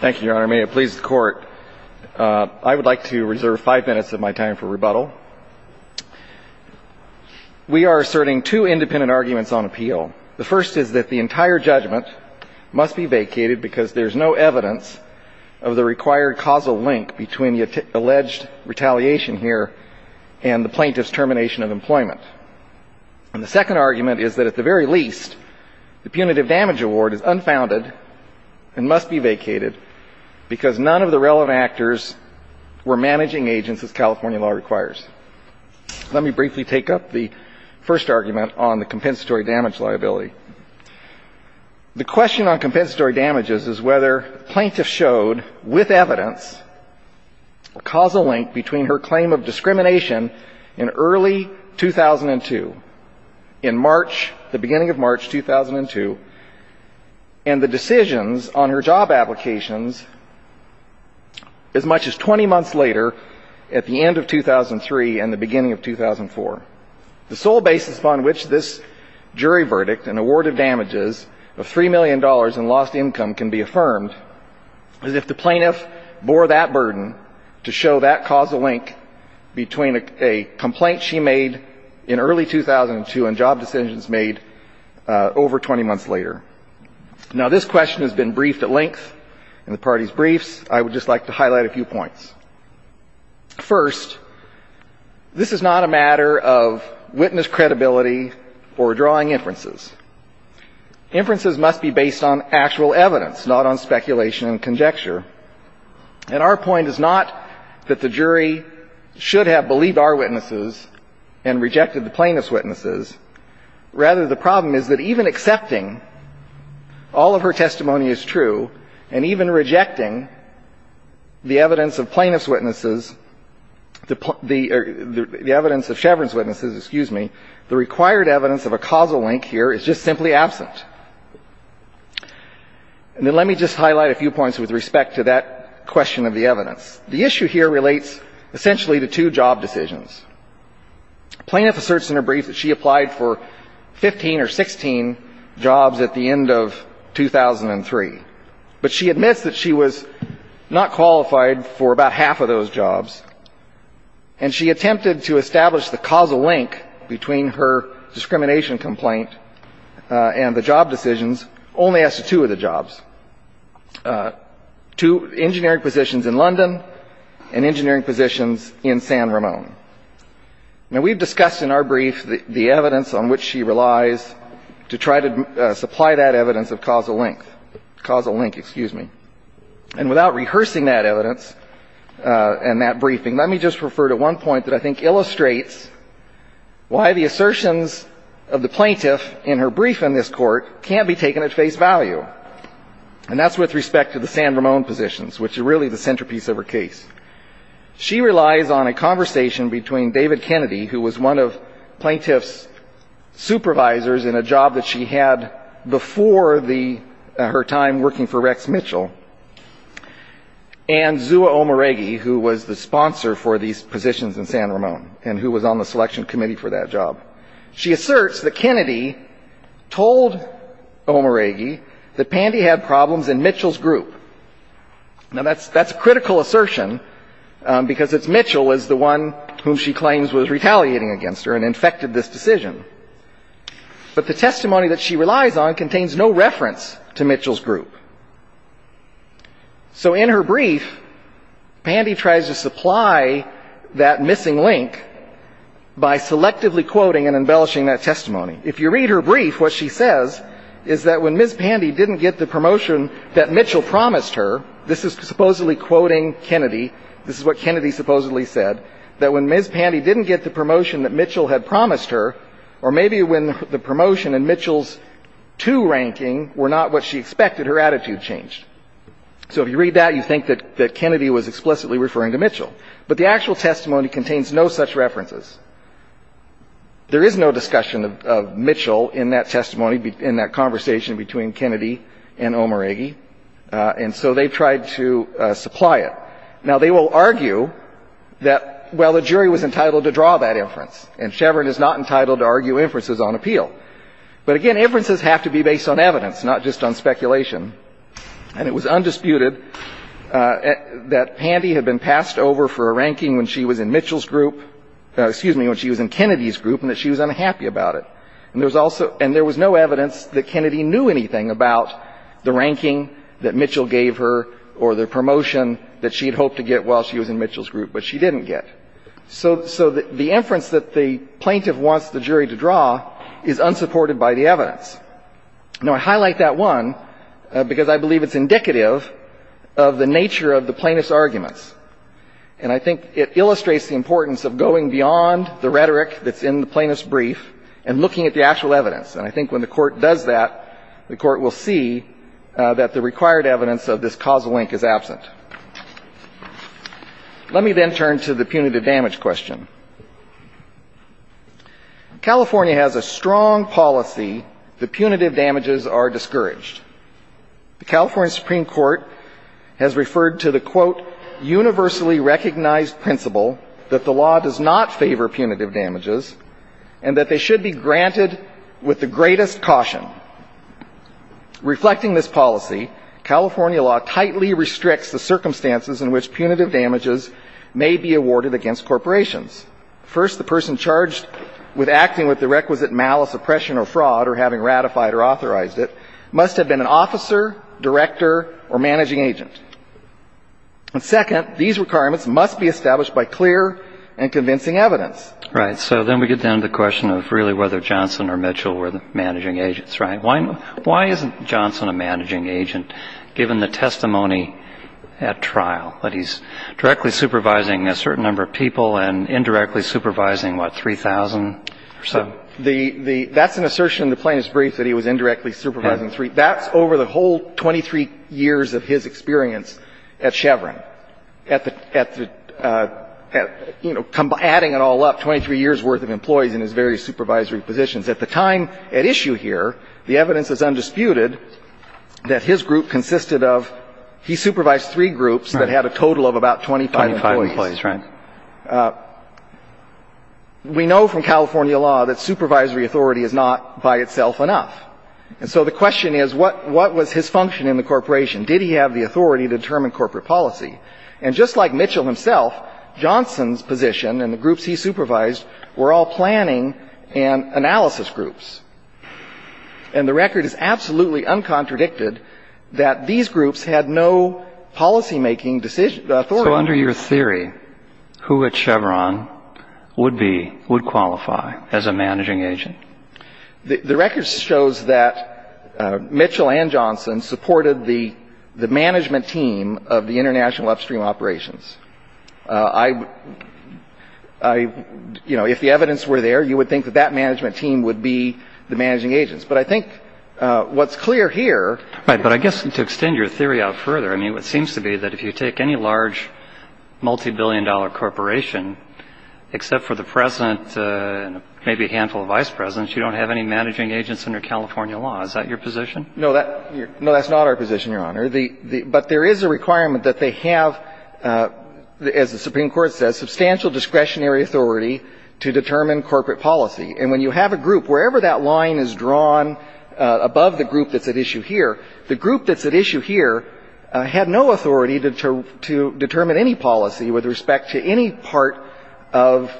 Thank you, Your Honor. May it please the Court, I would like to reserve five minutes of my time for rebuttal. We are asserting two independent arguments on appeal. The first is that the entire judgment must be vacated because there is no evidence of the required causal link between the alleged retaliation here and the plaintiff's termination of employment. And the second argument is that at the very least, the punitive damage award is unfounded and must be vacated because none of the relevant actors were managing agents, as California law requires. Let me briefly take up the first argument on the compensatory damage liability. The question on compensatory damages is whether plaintiffs showed, with evidence, a causal link between her claim of discrimination in early 2002, in March, the beginning of March 2002, and the decisions on her job applications as much as 20 months later at the end of 2003 and the beginning of 2004. The sole basis upon which this jury verdict, an award of damages of $3 million in lost income, can be affirmed is if the plaintiff bore that burden to show that causal link between a complaint she made in early 2002 and job decisions made over 20 months later. Now, this question has been briefed at length in the party's briefs. I would just like to highlight a few points. First, this is not a matter of witness credibility or drawing inferences. Inferences must be based on actual evidence, not on speculation and conjecture. And our point is not that the jury should have believed our witnesses and rejected the plaintiff's witnesses. Rather, the problem is that even accepting all of her testimony is true and even rejecting the evidence of plaintiff's witnesses, the evidence of Chevron's witnesses, excuse me, the required evidence of a causal link here is just simply absent. And then let me just highlight a few points with respect to that question of the evidence. The issue here relates essentially to two job decisions. A plaintiff asserts in her brief that she applied for 15 or 16 jobs at the end of 2003, but she admits that she was not qualified for about half of those jobs, and she attempted to establish the causal link between her discrimination complaint and the job decisions only as to two of the jobs, two engineering positions in London and engineering positions in San Ramon. Now, we've discussed in our brief the evidence on which she relies to try to supply that evidence of causal link, causal link, excuse me. And without rehearsing that evidence, she illustrates why the assertions of the plaintiff in her brief in this court can't be taken at face value. And that's with respect to the San Ramon positions, which are really the centerpiece of her case. She relies on a conversation between David Kennedy, who was one of plaintiff's supervisors in a job that she had before the her time working for Rex Mitchell, and Zua Omaregi, who was the sponsor for these positions in San Ramon, and who was on the selection committee for that job. She asserts that Kennedy told Omaregi that Pandy had problems in Mitchell's group. Now, that's a critical assertion, because it's Mitchell is the one whom she claims was retaliating against her and infected this decision. But the testimony that she relies on contains no reference to Mitchell's group. So in her brief, Pandy tries to supply that missing link by selectively quoting and embellishing that testimony. If you read her brief, what she says is that when Ms. Pandy didn't get the promotion that Mitchell promised her, this is supposedly quoting Kennedy, this is what Kennedy supposedly said, that when Ms. Pandy didn't get the promotion that Mitchell had promised her, or maybe when the promotion in Mitchell's two ranking were not what she expected, her attitude changed. So if you read that, you think that Kennedy was explicitly referring to Mitchell. But the actual testimony contains no such references. There is no discussion of Mitchell in that testimony, in that conversation between Kennedy and Omaregi, and so they've tried to supply it. Now, they will argue that, well, the jury was entitled to draw that inference, and Chevron is not entitled to argue inferences on appeal. But again, inferences have to be based on evidence, not just on speculation. And it was undisputed that Pandy had been passed over for a ranking when she was in Mitchell's group, excuse me, when she was in Kennedy's group, and that she was unhappy about it. And there was no evidence that Kennedy knew anything about the ranking that Mitchell gave her or the promotion that she had hoped to get while she was in Mitchell's group, but she didn't get. So the inference that the plaintiff wants the jury to draw is unsupported by the evidence. Now, I highlight that one because I believe it's indicative of the nature of the plaintiff's arguments. And I think it illustrates the importance of going beyond the rhetoric that's in the plaintiff's brief and looking at the actual evidence. And I think when the Court does that, the Court will see that the required evidence of this causal link is absent. Let me then turn to the punitive damage question. California has a strong policy that punitive damages are discouraged. The California Supreme Court has referred to the, quote, universally recognized principle that the law does not favor punitive damages and that they should be granted with the greatest caution. Reflecting this policy, California law tightly restricts the circumstances in which punitive damages may be awarded against corporations. First, the person charged with acting with the requisite malice, oppression or fraud or having ratified or authorized it must have been an officer, director or managing agent. And second, these requirements must be established by clear and convincing evidence. Right. So then we get down to the question of really whether Johnson or Mitchell were managing agents, right? Why isn't Johnson a managing agent, given the testimony at trial that he's directly supervising a certain number of people and indirectly supervising, what, 3,000 or so? That's an assertion in the plaintiff's brief that he was indirectly supervising 3,000. That's over the whole 23 years of his experience at Chevron, at the, you know, adding it all up, 23 years' worth of employees in his various supervisory positions. At the time at issue here, the evidence is undisputed that his group consisted of he supervised three groups that had a total of about 25 employees. Twenty-five employees, right. We know from California law that supervisory authority is not by itself enough. And so the question is, what was his function in the corporation? Did he have the authority to determine corporate policy? And just like Mitchell himself, Johnson's position and the groups he supervised were all planning and analysis groups. And the record is absolutely uncontradicted that these groups had no policymaking decision, authority. So under your theory, who at Chevron would be, would qualify as a managing agent? The record shows that Mitchell and Johnson supported the management team of the I, you know, if the evidence were there, you would think that that management team would be the managing agents. But I think what's clear here Right. But I guess to extend your theory out further, I mean, it seems to be that if you take any large multibillion-dollar corporation, except for the president and maybe a handful of vice presidents, you don't have any managing agents under California law. Is that your position? No, that's not our position, Your Honor. But there is a requirement that they have, as the Supreme Court says, substantial discretionary authority to determine corporate policy. And when you have a group, wherever that line is drawn above the group that's at issue here, the group that's at issue here had no authority to determine any policy with respect to any part of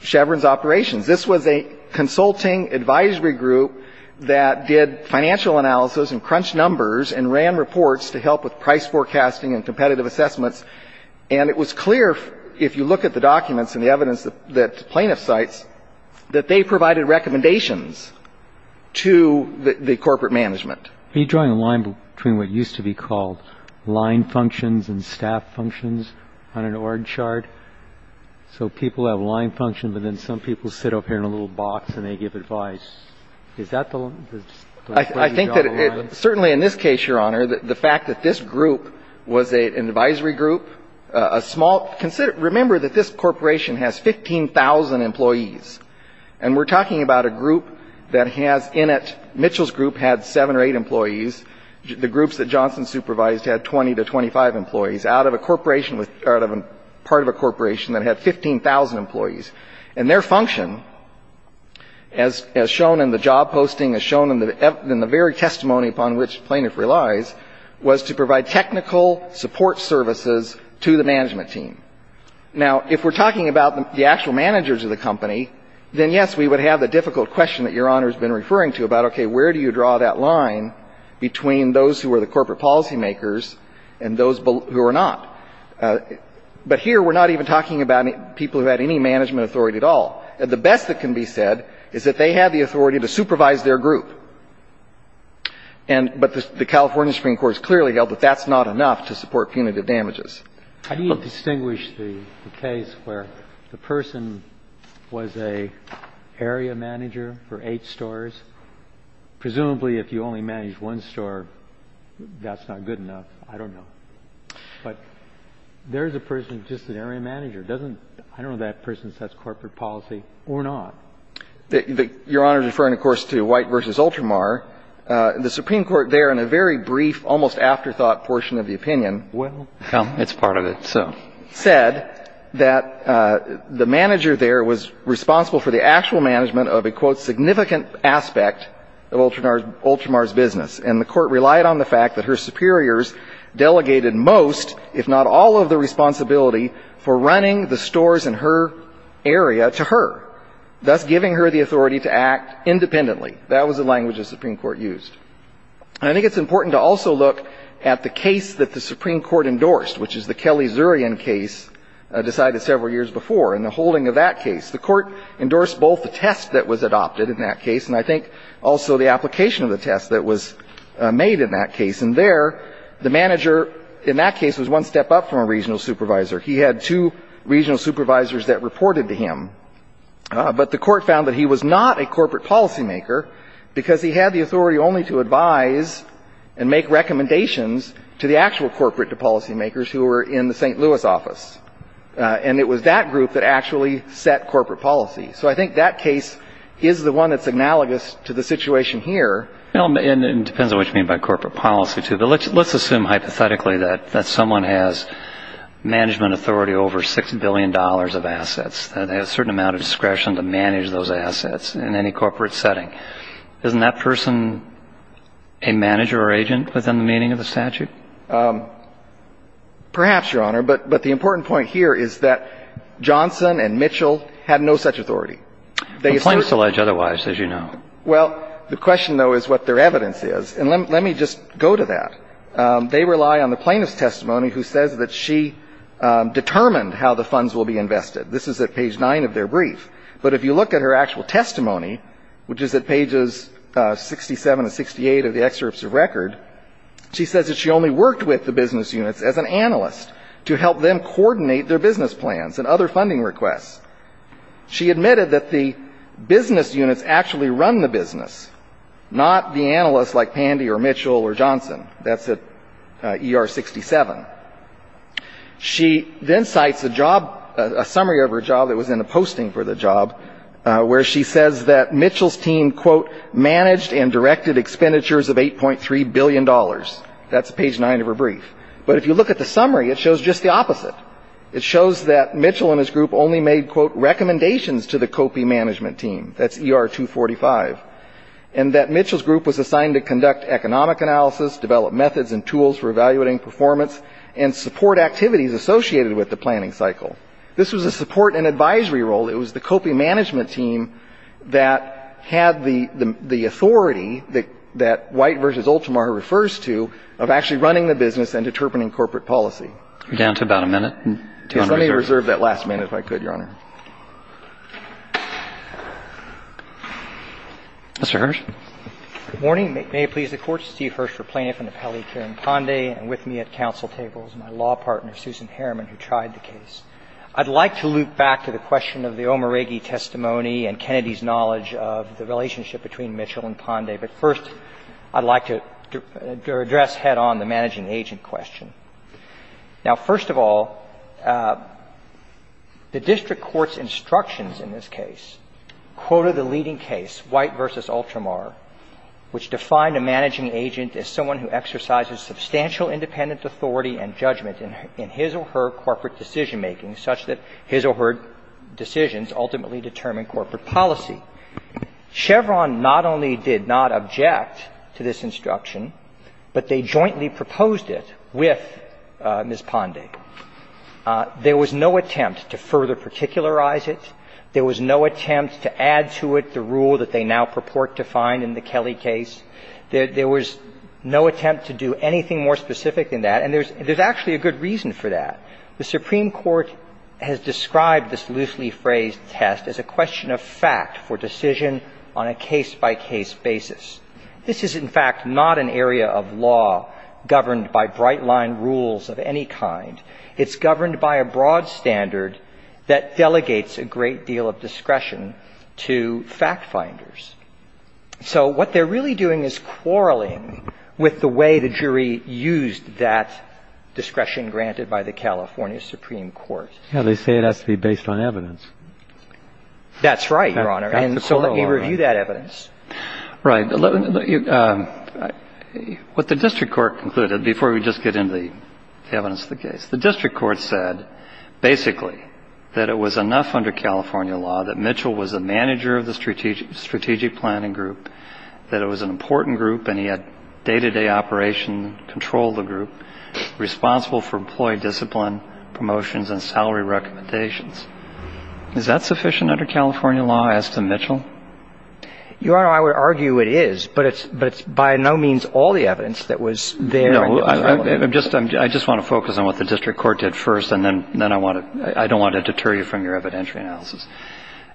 Chevron's operations. This was a consulting advisory group that did financial analysis and crunched and ran reports to help with price forecasting and competitive assessments. And it was clear, if you look at the documents and the evidence that the plaintiff cites, that they provided recommendations to the corporate management. Are you drawing a line between what used to be called line functions and staff functions on an orange chart? So people have line functions and then some people sit up here in a little box and they give advice. Is that the way you draw the line? I think that it – certainly in this case, Your Honor, the fact that this group was an advisory group, a small – remember that this corporation has 15,000 employees. And we're talking about a group that has in it – Mitchell's group had 7 or 8 employees. The groups that Johnson supervised had 20 to 25 employees. Out of a corporation with – out of a part of a corporation that had 15,000 employees. And their function, as shown in the job posting, as shown in the very testimony upon which the plaintiff relies, was to provide technical support services to the management team. Now, if we're talking about the actual managers of the company, then, yes, we would have the difficult question that Your Honor has been referring to about, okay, where do you draw that line between those who are the corporate policymakers and those who are not. But here, we're not even talking about people who had any management authority at all. The best that can be said is that they had the authority to supervise their group. And – but the California Supreme Court has clearly held that that's not enough to support punitive damages. How do you distinguish the case where the person was an area manager for eight stores? Presumably, if you only managed one store, that's not good enough. I don't know. But there's a person who's just an area manager. Doesn't – I don't know if that person sets corporate policy or not. Your Honor is referring, of course, to White v. Ultramar. The Supreme Court there, in a very brief, almost afterthought portion of the opinion – Well, it's part of it, so. – said that the manager there was responsible for the actual management of a, quote, significant aspect of Ultramar's business. And the Court relied on the fact that her superiors delegated most, if not all of the responsibility for running the stores in her area to her, thus giving her the authority to act independently. That was the language the Supreme Court used. And I think it's important to also look at the case that the Supreme Court endorsed, which is the Kelly-Zurian case decided several years before. In the holding of that case, the Court endorsed both the test that was adopted in that made in that case. And there, the manager in that case was one step up from a regional supervisor. He had two regional supervisors that reported to him. But the Court found that he was not a corporate policymaker because he had the authority only to advise and make recommendations to the actual corporate policymakers who were in the St. Louis office. And it was that group that actually set corporate policy. So I think that case is the one that's analogous to the situation here. Well, and it depends on what you mean by corporate policy, too. But let's assume hypothetically that someone has management authority over $6 billion of assets, that they have a certain amount of discretion to manage those assets in any corporate setting. Isn't that person a manager or agent within the meaning of the statute? Perhaps, Your Honor. But the important point here is that Johnson and Mitchell had no such authority. Complaints allege otherwise, as you know. Well, the question, though, is what their evidence is. And let me just go to that. They rely on the plaintiff's testimony who says that she determined how the funds will be invested. This is at page 9 of their brief. But if you look at her actual testimony, which is at pages 67 and 68 of the excerpts of record, she says that she only worked with the business units as an analyst to help them coordinate their business plans and other funding requests. She admitted that the business units actually run the business, not the analysts like Pandy or Mitchell or Johnson. That's at ER 67. She then cites a job, a summary of her job that was in the posting for the job, where she says that Mitchell's team, quote, managed and directed expenditures of $8.3 billion. That's page 9 of her brief. But if you look at the summary, it shows just the opposite. It shows that Mitchell and his group only made, quote, recommendations to the COPE management team. That's ER 245. And that Mitchell's group was assigned to conduct economic analysis, develop methods and tools for evaluating performance, and support activities associated with the planning cycle. This was a support and advisory role. It was the COPE management team that had the authority that White versus Ultimar refers to of actually running the business and determining corporate policy. We're down to about a minute. Yes. Let me reserve that last minute if I could, Your Honor. Mr. Hirsch. Good morning. May it please the Court. Steve Hirsch for Plaintiff and Appellee Karen Ponday. And with me at council table is my law partner, Susan Harriman, who tried the case. I'd like to loop back to the question of the Omaregi testimony and Kennedy's knowledge of the relationship between Mitchell and Ponday. But first, I'd like to address head-on the managing agent question. Now, first of all, the district court's instructions in this case quoted the leading case, White versus Ultimar, which defined a managing agent as someone who exercises substantial independent authority and judgment in his or her corporate decision making such that his or her decisions ultimately determine corporate policy. Chevron not only did not object to this instruction, but they jointly proposed it with Ms. Ponday. There was no attempt to further particularize it. There was no attempt to add to it the rule that they now purport to find in the Kelly case. There was no attempt to do anything more specific than that. And there's actually a good reason for that. The Supreme Court has described this loosely phrased test as a question of fact for decision on a case-by-case basis. This is, in fact, not an area of law governed by bright-line rules of any kind. It's governed by a broad standard that delegates a great deal of discretion to fact-finders. So what they're really doing is quarreling with the way the jury used that discretion granted by the California Supreme Court. They say it has to be based on evidence. That's right, Your Honor. And so let me review that evidence. Right. What the district court concluded, before we just get into the evidence of the case, the district court said, basically, that it was enough under California law that Mitchell was a manager of the strategic planning group, that it was an important group, and he had day-to-day operation, controlled the group, responsible for employee discipline, promotions, and salary recommendations. Is that sufficient under California law as to Mitchell? Your Honor, I would argue it is, but it's by no means all the evidence that was there in the trial. No. I just want to focus on what the district court did first, and then I don't want to deter you from your evidentiary analysis.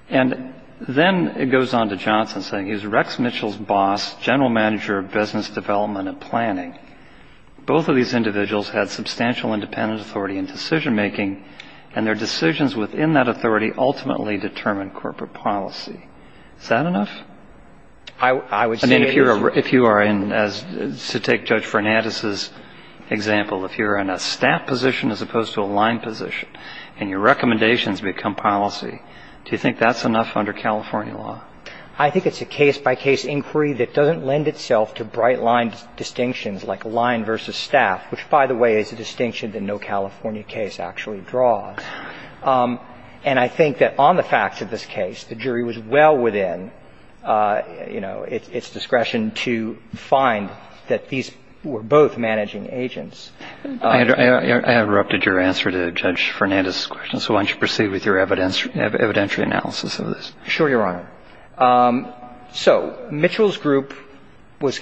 And then it goes on to Johnson saying he was Rex Mitchell's boss, general manager of business development and planning. Both of these individuals had substantial independent authority in decision-making, and their decisions within that authority ultimately determined corporate policy. Is that enough? I would say it is. I mean, if you are in, to take Judge Fernandez's example, if you're in a staff position as opposed to a line position, and your recommendations become policy, do you think that's enough under California law? I think it's a case-by-case inquiry that doesn't lend itself to bright-line distinctions like line versus staff, which, by the way, is a distinction that no California case actually draws. And I think that on the facts of this case, the jury was well within, you know, its discretion to find that these were both managing agents. I interrupted your answer to Judge Fernandez's question, so why don't you proceed with your evidentiary analysis of this. Sure, Your Honor. So Mitchell's group was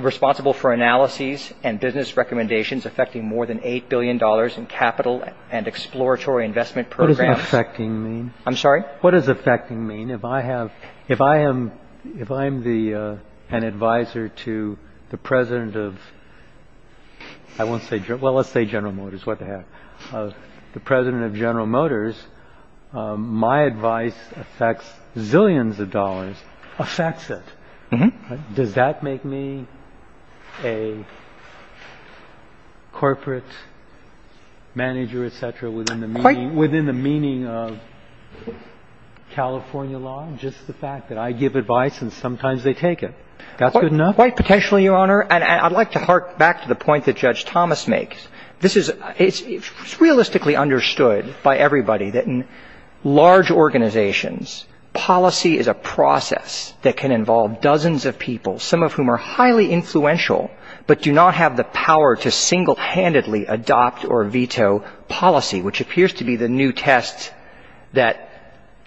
responsible for analyses and business recommendations affecting more than $8 billion in capital and exploratory investment programs. What does affecting mean? I'm sorry? What does affecting mean? If I have, if I am, if I'm the, an advisor to the president of, I won't say, well, let's say General Motors, what the heck, the president of General Motors, my advice affects zillions of dollars, affects it. Does that make me a corporate manager, et cetera, within the meaning of California law, just the fact that I give advice and sometimes they take it? That's good enough? Quite potentially, Your Honor. And I'd like to hark back to the point that Judge Thomas makes. This is, it's realistically understood by everybody that in large organizations, policy is a process that can involve dozens of people, some of whom are highly influential but do not have the power to single-handedly adopt or veto policy, which appears to be the new test that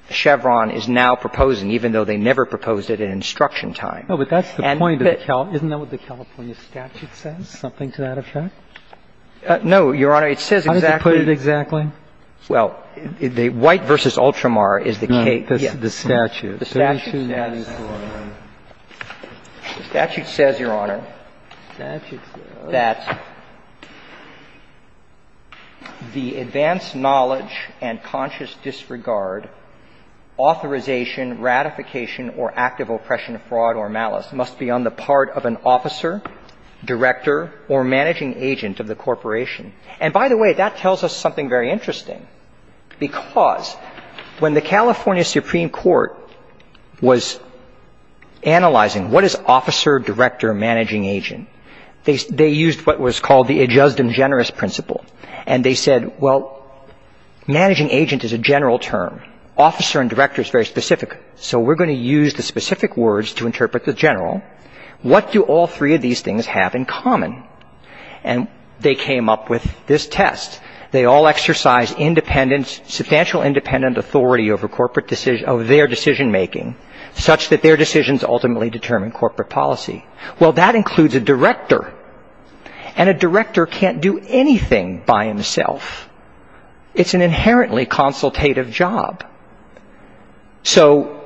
Chevron is now proposing, even though they never proposed it in instruction time. No, but that's the point of the California, isn't that what the California statute says, something to that effect? No, Your Honor. It says exactly. How does it put it exactly? Well, the White v. Ultramar is the case. No, the statute. The statute says, Your Honor, that the advanced knowledge and conscious disregard, authorization, ratification, or active oppression, fraud, or malice must be on the part of an officer, director, or managing agent of the corporation. And by the way, that tells us something very interesting, because when the California Supreme Court was analyzing what is officer, director, managing agent, they used what was called the adjust and generous principle. And they said, well, managing agent is a general term. Officer and director is very specific. So we're going to use the specific words to interpret the general. What do all three of these things have in common? And they came up with this test. They all exercise independent, substantial independent authority over their decision making, such that their decisions ultimately determine corporate policy. Well, that includes a director. And a director can't do anything by himself. It's an inherently consultative job. So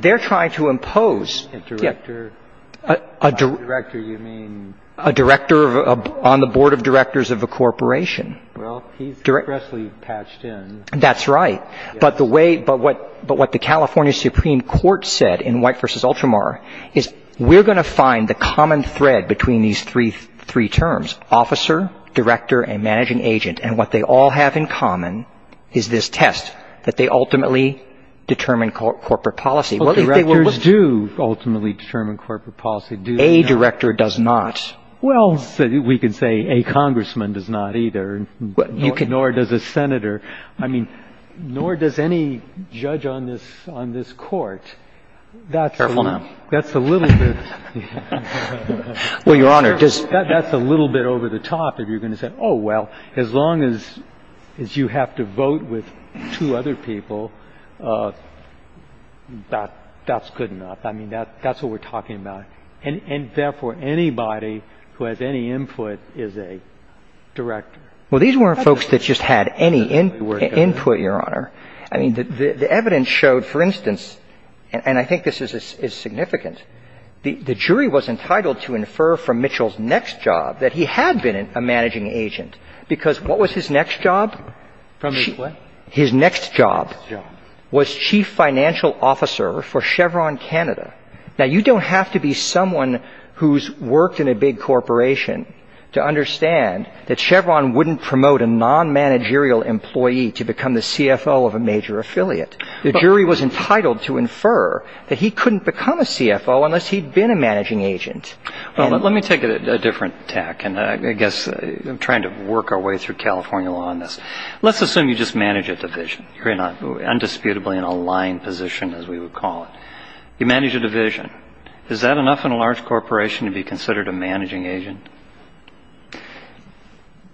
they're trying to impose. By director, you mean? A director on the board of directors of a corporation. Well, he's aggressively patched in. That's right. But what the California Supreme Court said in White v. Ultramar is, we're going to find the common thread between these three terms, officer, director, and managing agent. And what they all have in common is this test, that they ultimately determine corporate policy. Directors do ultimately determine corporate policy. A director does not. Well, we can say a congressman does not either. Nor does a senator. I mean, nor does any judge on this court. Careful now. That's a little bit over the top if you're going to say, oh, well, as long as you have to vote with two other people, that's good enough. I mean, that's what we're talking about. And therefore, anybody who has any input is a director. Well, these weren't folks that just had any input, Your Honor. I mean, the evidence showed, for instance, and I think this is significant, the jury was entitled to infer from Mitchell's next job that he had been a managing agent, because what was his next job? From his what? His next job. Was chief financial officer for Chevron Canada. Now, you don't have to be someone who's worked in a big corporation to understand that Chevron wouldn't promote a non-managerial employee to become the CFO of a major affiliate. The jury was entitled to infer that he couldn't become a CFO unless he'd been a managing agent. Well, let me take a different tack, and I guess I'm trying to work our way through California law on this. Let's assume you just manage a division. You're indisputably in a line position, as we would call it. You manage a division. Is that enough in a large corporation to be considered a managing agent?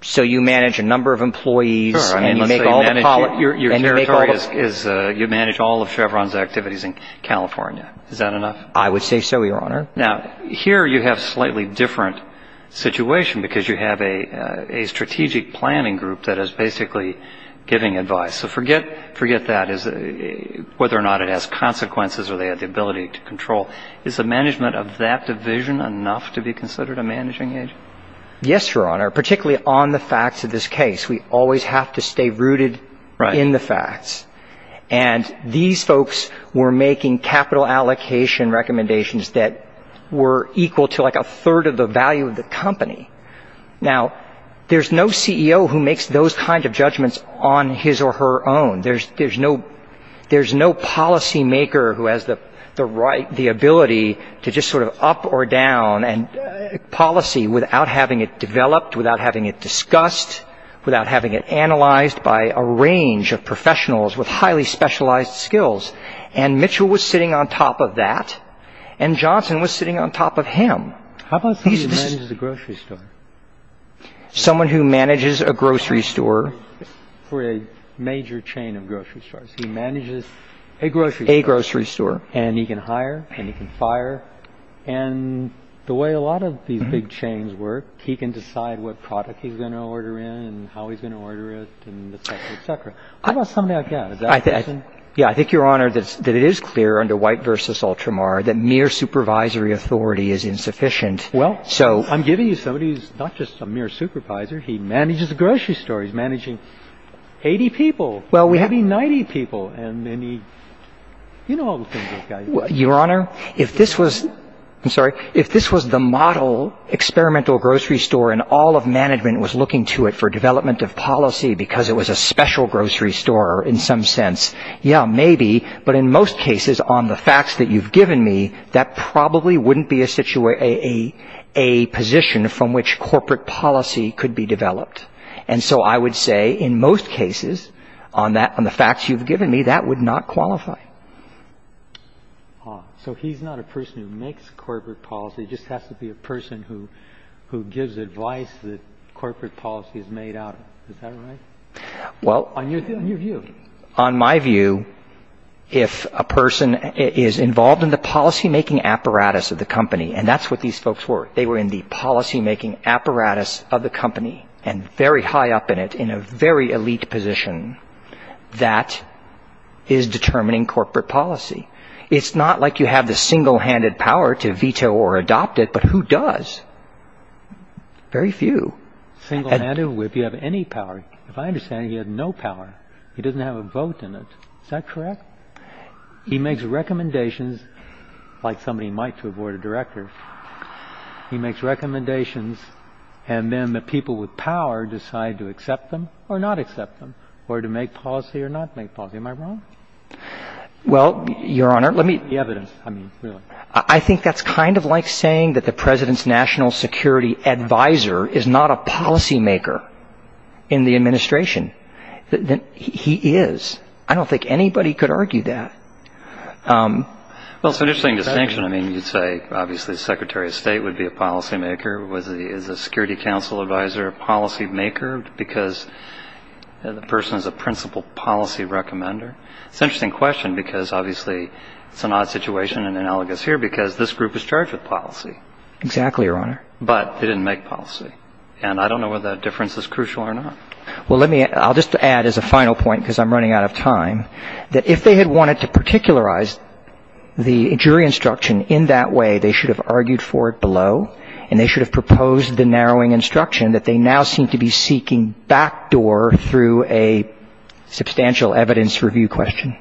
So you manage a number of employees and you make all the policy? Your territory is you manage all of Chevron's activities in California. Is that enough? I would say so, Your Honor. Now, here you have a slightly different situation, because you have a strategic planning group that is basically giving advice. So forget that, whether or not it has consequences or they have the ability to control. Is the management of that division enough to be considered a managing agent? Yes, Your Honor, particularly on the facts of this case. And these folks were making capital allocation recommendations that were equal to like a third of the value of the company. Now, there's no CEO who makes those kinds of judgments on his or her own. There's no policymaker who has the ability to just sort of up or down policy without having it analyzed by a range of professionals with highly specialized skills. And Mitchell was sitting on top of that and Johnson was sitting on top of him. How about someone who manages a grocery store? Someone who manages a grocery store. For a major chain of grocery stores. He manages a grocery store. A grocery store. And he can hire and he can fire. And the way a lot of these big chains work, he can decide what product he's going to order in and how he's going to order it and et cetera, et cetera. How about somebody like that? Yeah, I think, Your Honor, that it is clear under White v. Ultramar that mere supervisory authority is insufficient. Well, I'm giving you somebody who's not just a mere supervisor. He manages a grocery store. He's managing 80 people. Well, we have 90 people. You know all the things this guy does. Your Honor, if this was the model experimental grocery store and all of management was looking to it for development of policy because it was a special grocery store in some sense, yeah, maybe, but in most cases on the facts that you've given me, that probably wouldn't be a position from which corporate policy could be developed. And so I would say in most cases on the facts you've given me, that would not qualify. So he's not a person who makes corporate policy. He just has to be a person who gives advice that corporate policy is made out of. Is that right? On your view. On my view, if a person is involved in the policymaking apparatus of the company, and that's what these folks were. They were in the policymaking apparatus of the company and very high up in it in a very elite position. That is determining corporate policy. It's not like you have the single-handed power to veto or adopt it, but who does? Very few. Single-handed? If you have any power. If I understand, he had no power. He doesn't have a vote in it. Is that correct? He makes recommendations like somebody might to a board of directors. He makes recommendations and then the people with power decide to accept them or not accept them or to make policy or not make policy. Am I wrong? Well, Your Honor, let me. The evidence. I mean, really. I think that's kind of like saying that the president's national security advisor is not a policymaker in the administration. He is. I don't think anybody could argue that. Well, it's an interesting distinction. I mean, you'd say obviously the secretary of state would be a policymaker. Is a security council advisor a policymaker because the person is a principal policy recommender? It's an interesting question because obviously it's an odd situation and analogous here because this group is charged with policy. Exactly, Your Honor. But they didn't make policy. And I don't know whether that difference is crucial or not. Well, let me. I'll just add as a final point because I'm running out of time, that if they had wanted to particularize the jury instruction in that way, they should have argued for it below and they should have proposed the narrowing instruction that they now seem to be seeking backdoor through a substantial evidence review question.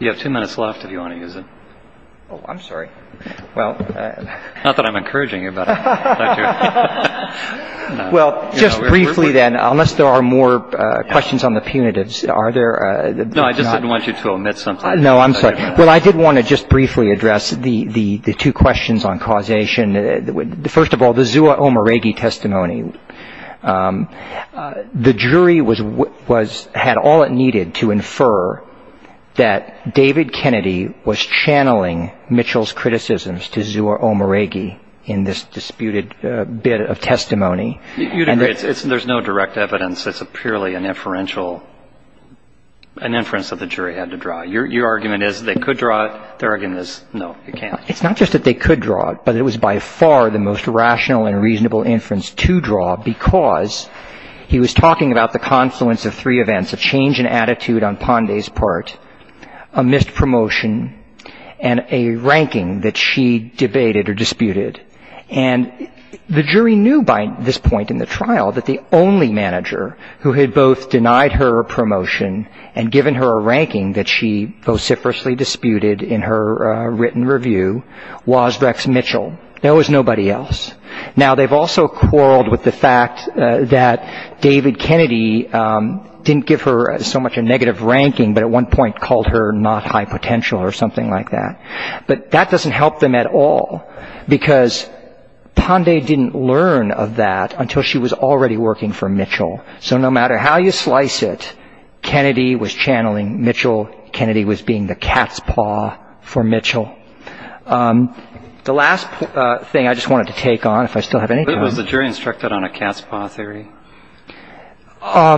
You have two minutes left if you want to use it. Oh, I'm sorry. Not that I'm encouraging you, but. Well, just briefly then, unless there are more questions on the punitives. Are there? No, I just didn't want you to omit something. No, I'm sorry. Well, I did want to just briefly address the two questions on causation. First of all, the Zua Omaregi testimony. The jury had all it needed to infer that David Kennedy was channeling Mitchell's criticisms to Zua Omaregi in this disputed bit of testimony. You'd agree. There's no direct evidence. It's purely an inference that the jury had to draw. Your argument is they could draw it. Their argument is, no, they can't. It's not just that they could draw it, but it was by far the most rational and reasonable inference to draw because he was talking about the confluence of three events, a change in attitude on Ponday's part, a missed promotion, and a ranking that she debated or disputed. And the jury knew by this point in the trial that the only manager who had both denied her a promotion and given her a ranking that she vociferously disputed in her written review was Rex Mitchell. There was nobody else. Now, they've also quarreled with the fact that David Kennedy didn't give her so much a negative ranking, but at one point called her not high potential or something like that. But that doesn't help them at all because Ponday didn't learn of that until she was already working for Mitchell. So no matter how you slice it, Kennedy was channeling Mitchell. Kennedy was being the cat's paw for Mitchell. The last thing I just wanted to take on, if I still have any time. Was the jury instructed on a cat's paw theory? I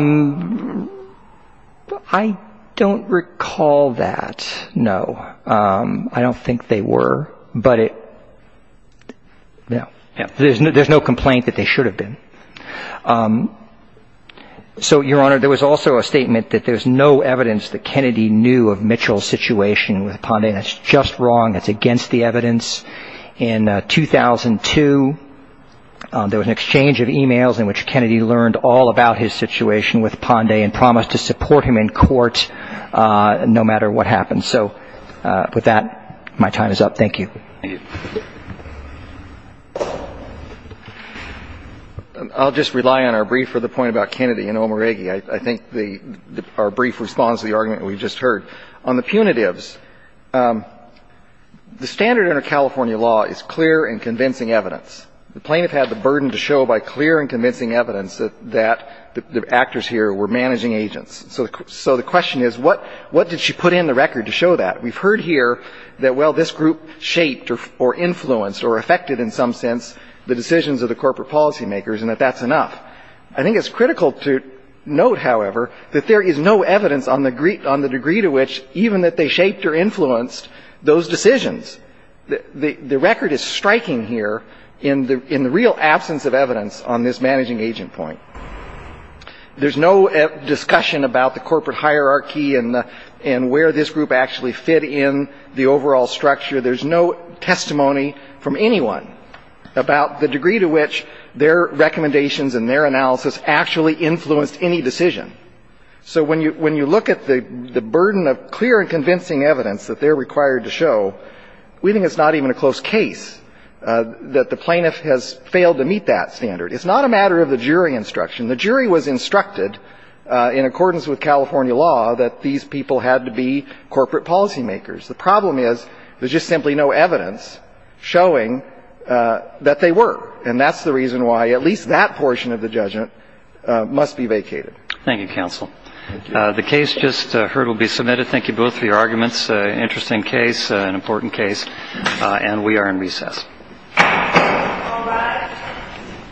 don't recall that, no. I don't think they were, but there's no complaint that they should have been. So, Your Honor, there was also a statement that there's no evidence that Kennedy knew of Mitchell's situation with Ponday. That's just wrong. That's against the evidence. In 2002, there was an exchange of emails in which Kennedy learned all about his situation with Ponday and promised to support him in court no matter what happened. So with that, my time is up. Thank you. Thank you. I'll just rely on our brief for the point about Kennedy and Omaregi. I think our brief responds to the argument we've just heard. On the punitives, the standard under California law is clear and convincing evidence. The plaintiff had the burden to show by clear and convincing evidence that the actors here were managing agents. So the question is, what did she put in the record to show that? We've heard here that, well, this group shaped or influenced or affected in some sense the decisions of the corporate policymakers and that that's enough. I think it's critical to note, however, that there is no evidence on the degree to which even that they shaped or influenced those decisions. The record is striking here in the real absence of evidence on this managing agent point. There's no discussion about the corporate hierarchy and where this group actually fit in the overall structure. There's no testimony from anyone about the degree to which their recommendations and their analysis actually influenced any decision. So when you look at the burden of clear and convincing evidence that they're required to show, we think it's not even a close case that the plaintiff has failed to meet that standard. It's not a matter of the jury instruction. The jury was instructed in accordance with California law that these people had to be corporate policymakers. The problem is there's just simply no evidence showing that they were. And that's the reason why at least that portion of the judgment must be vacated. Thank you, counsel. The case just heard will be submitted. Thank you both for your arguments. Interesting case, an important case. And we are in recess. All rise.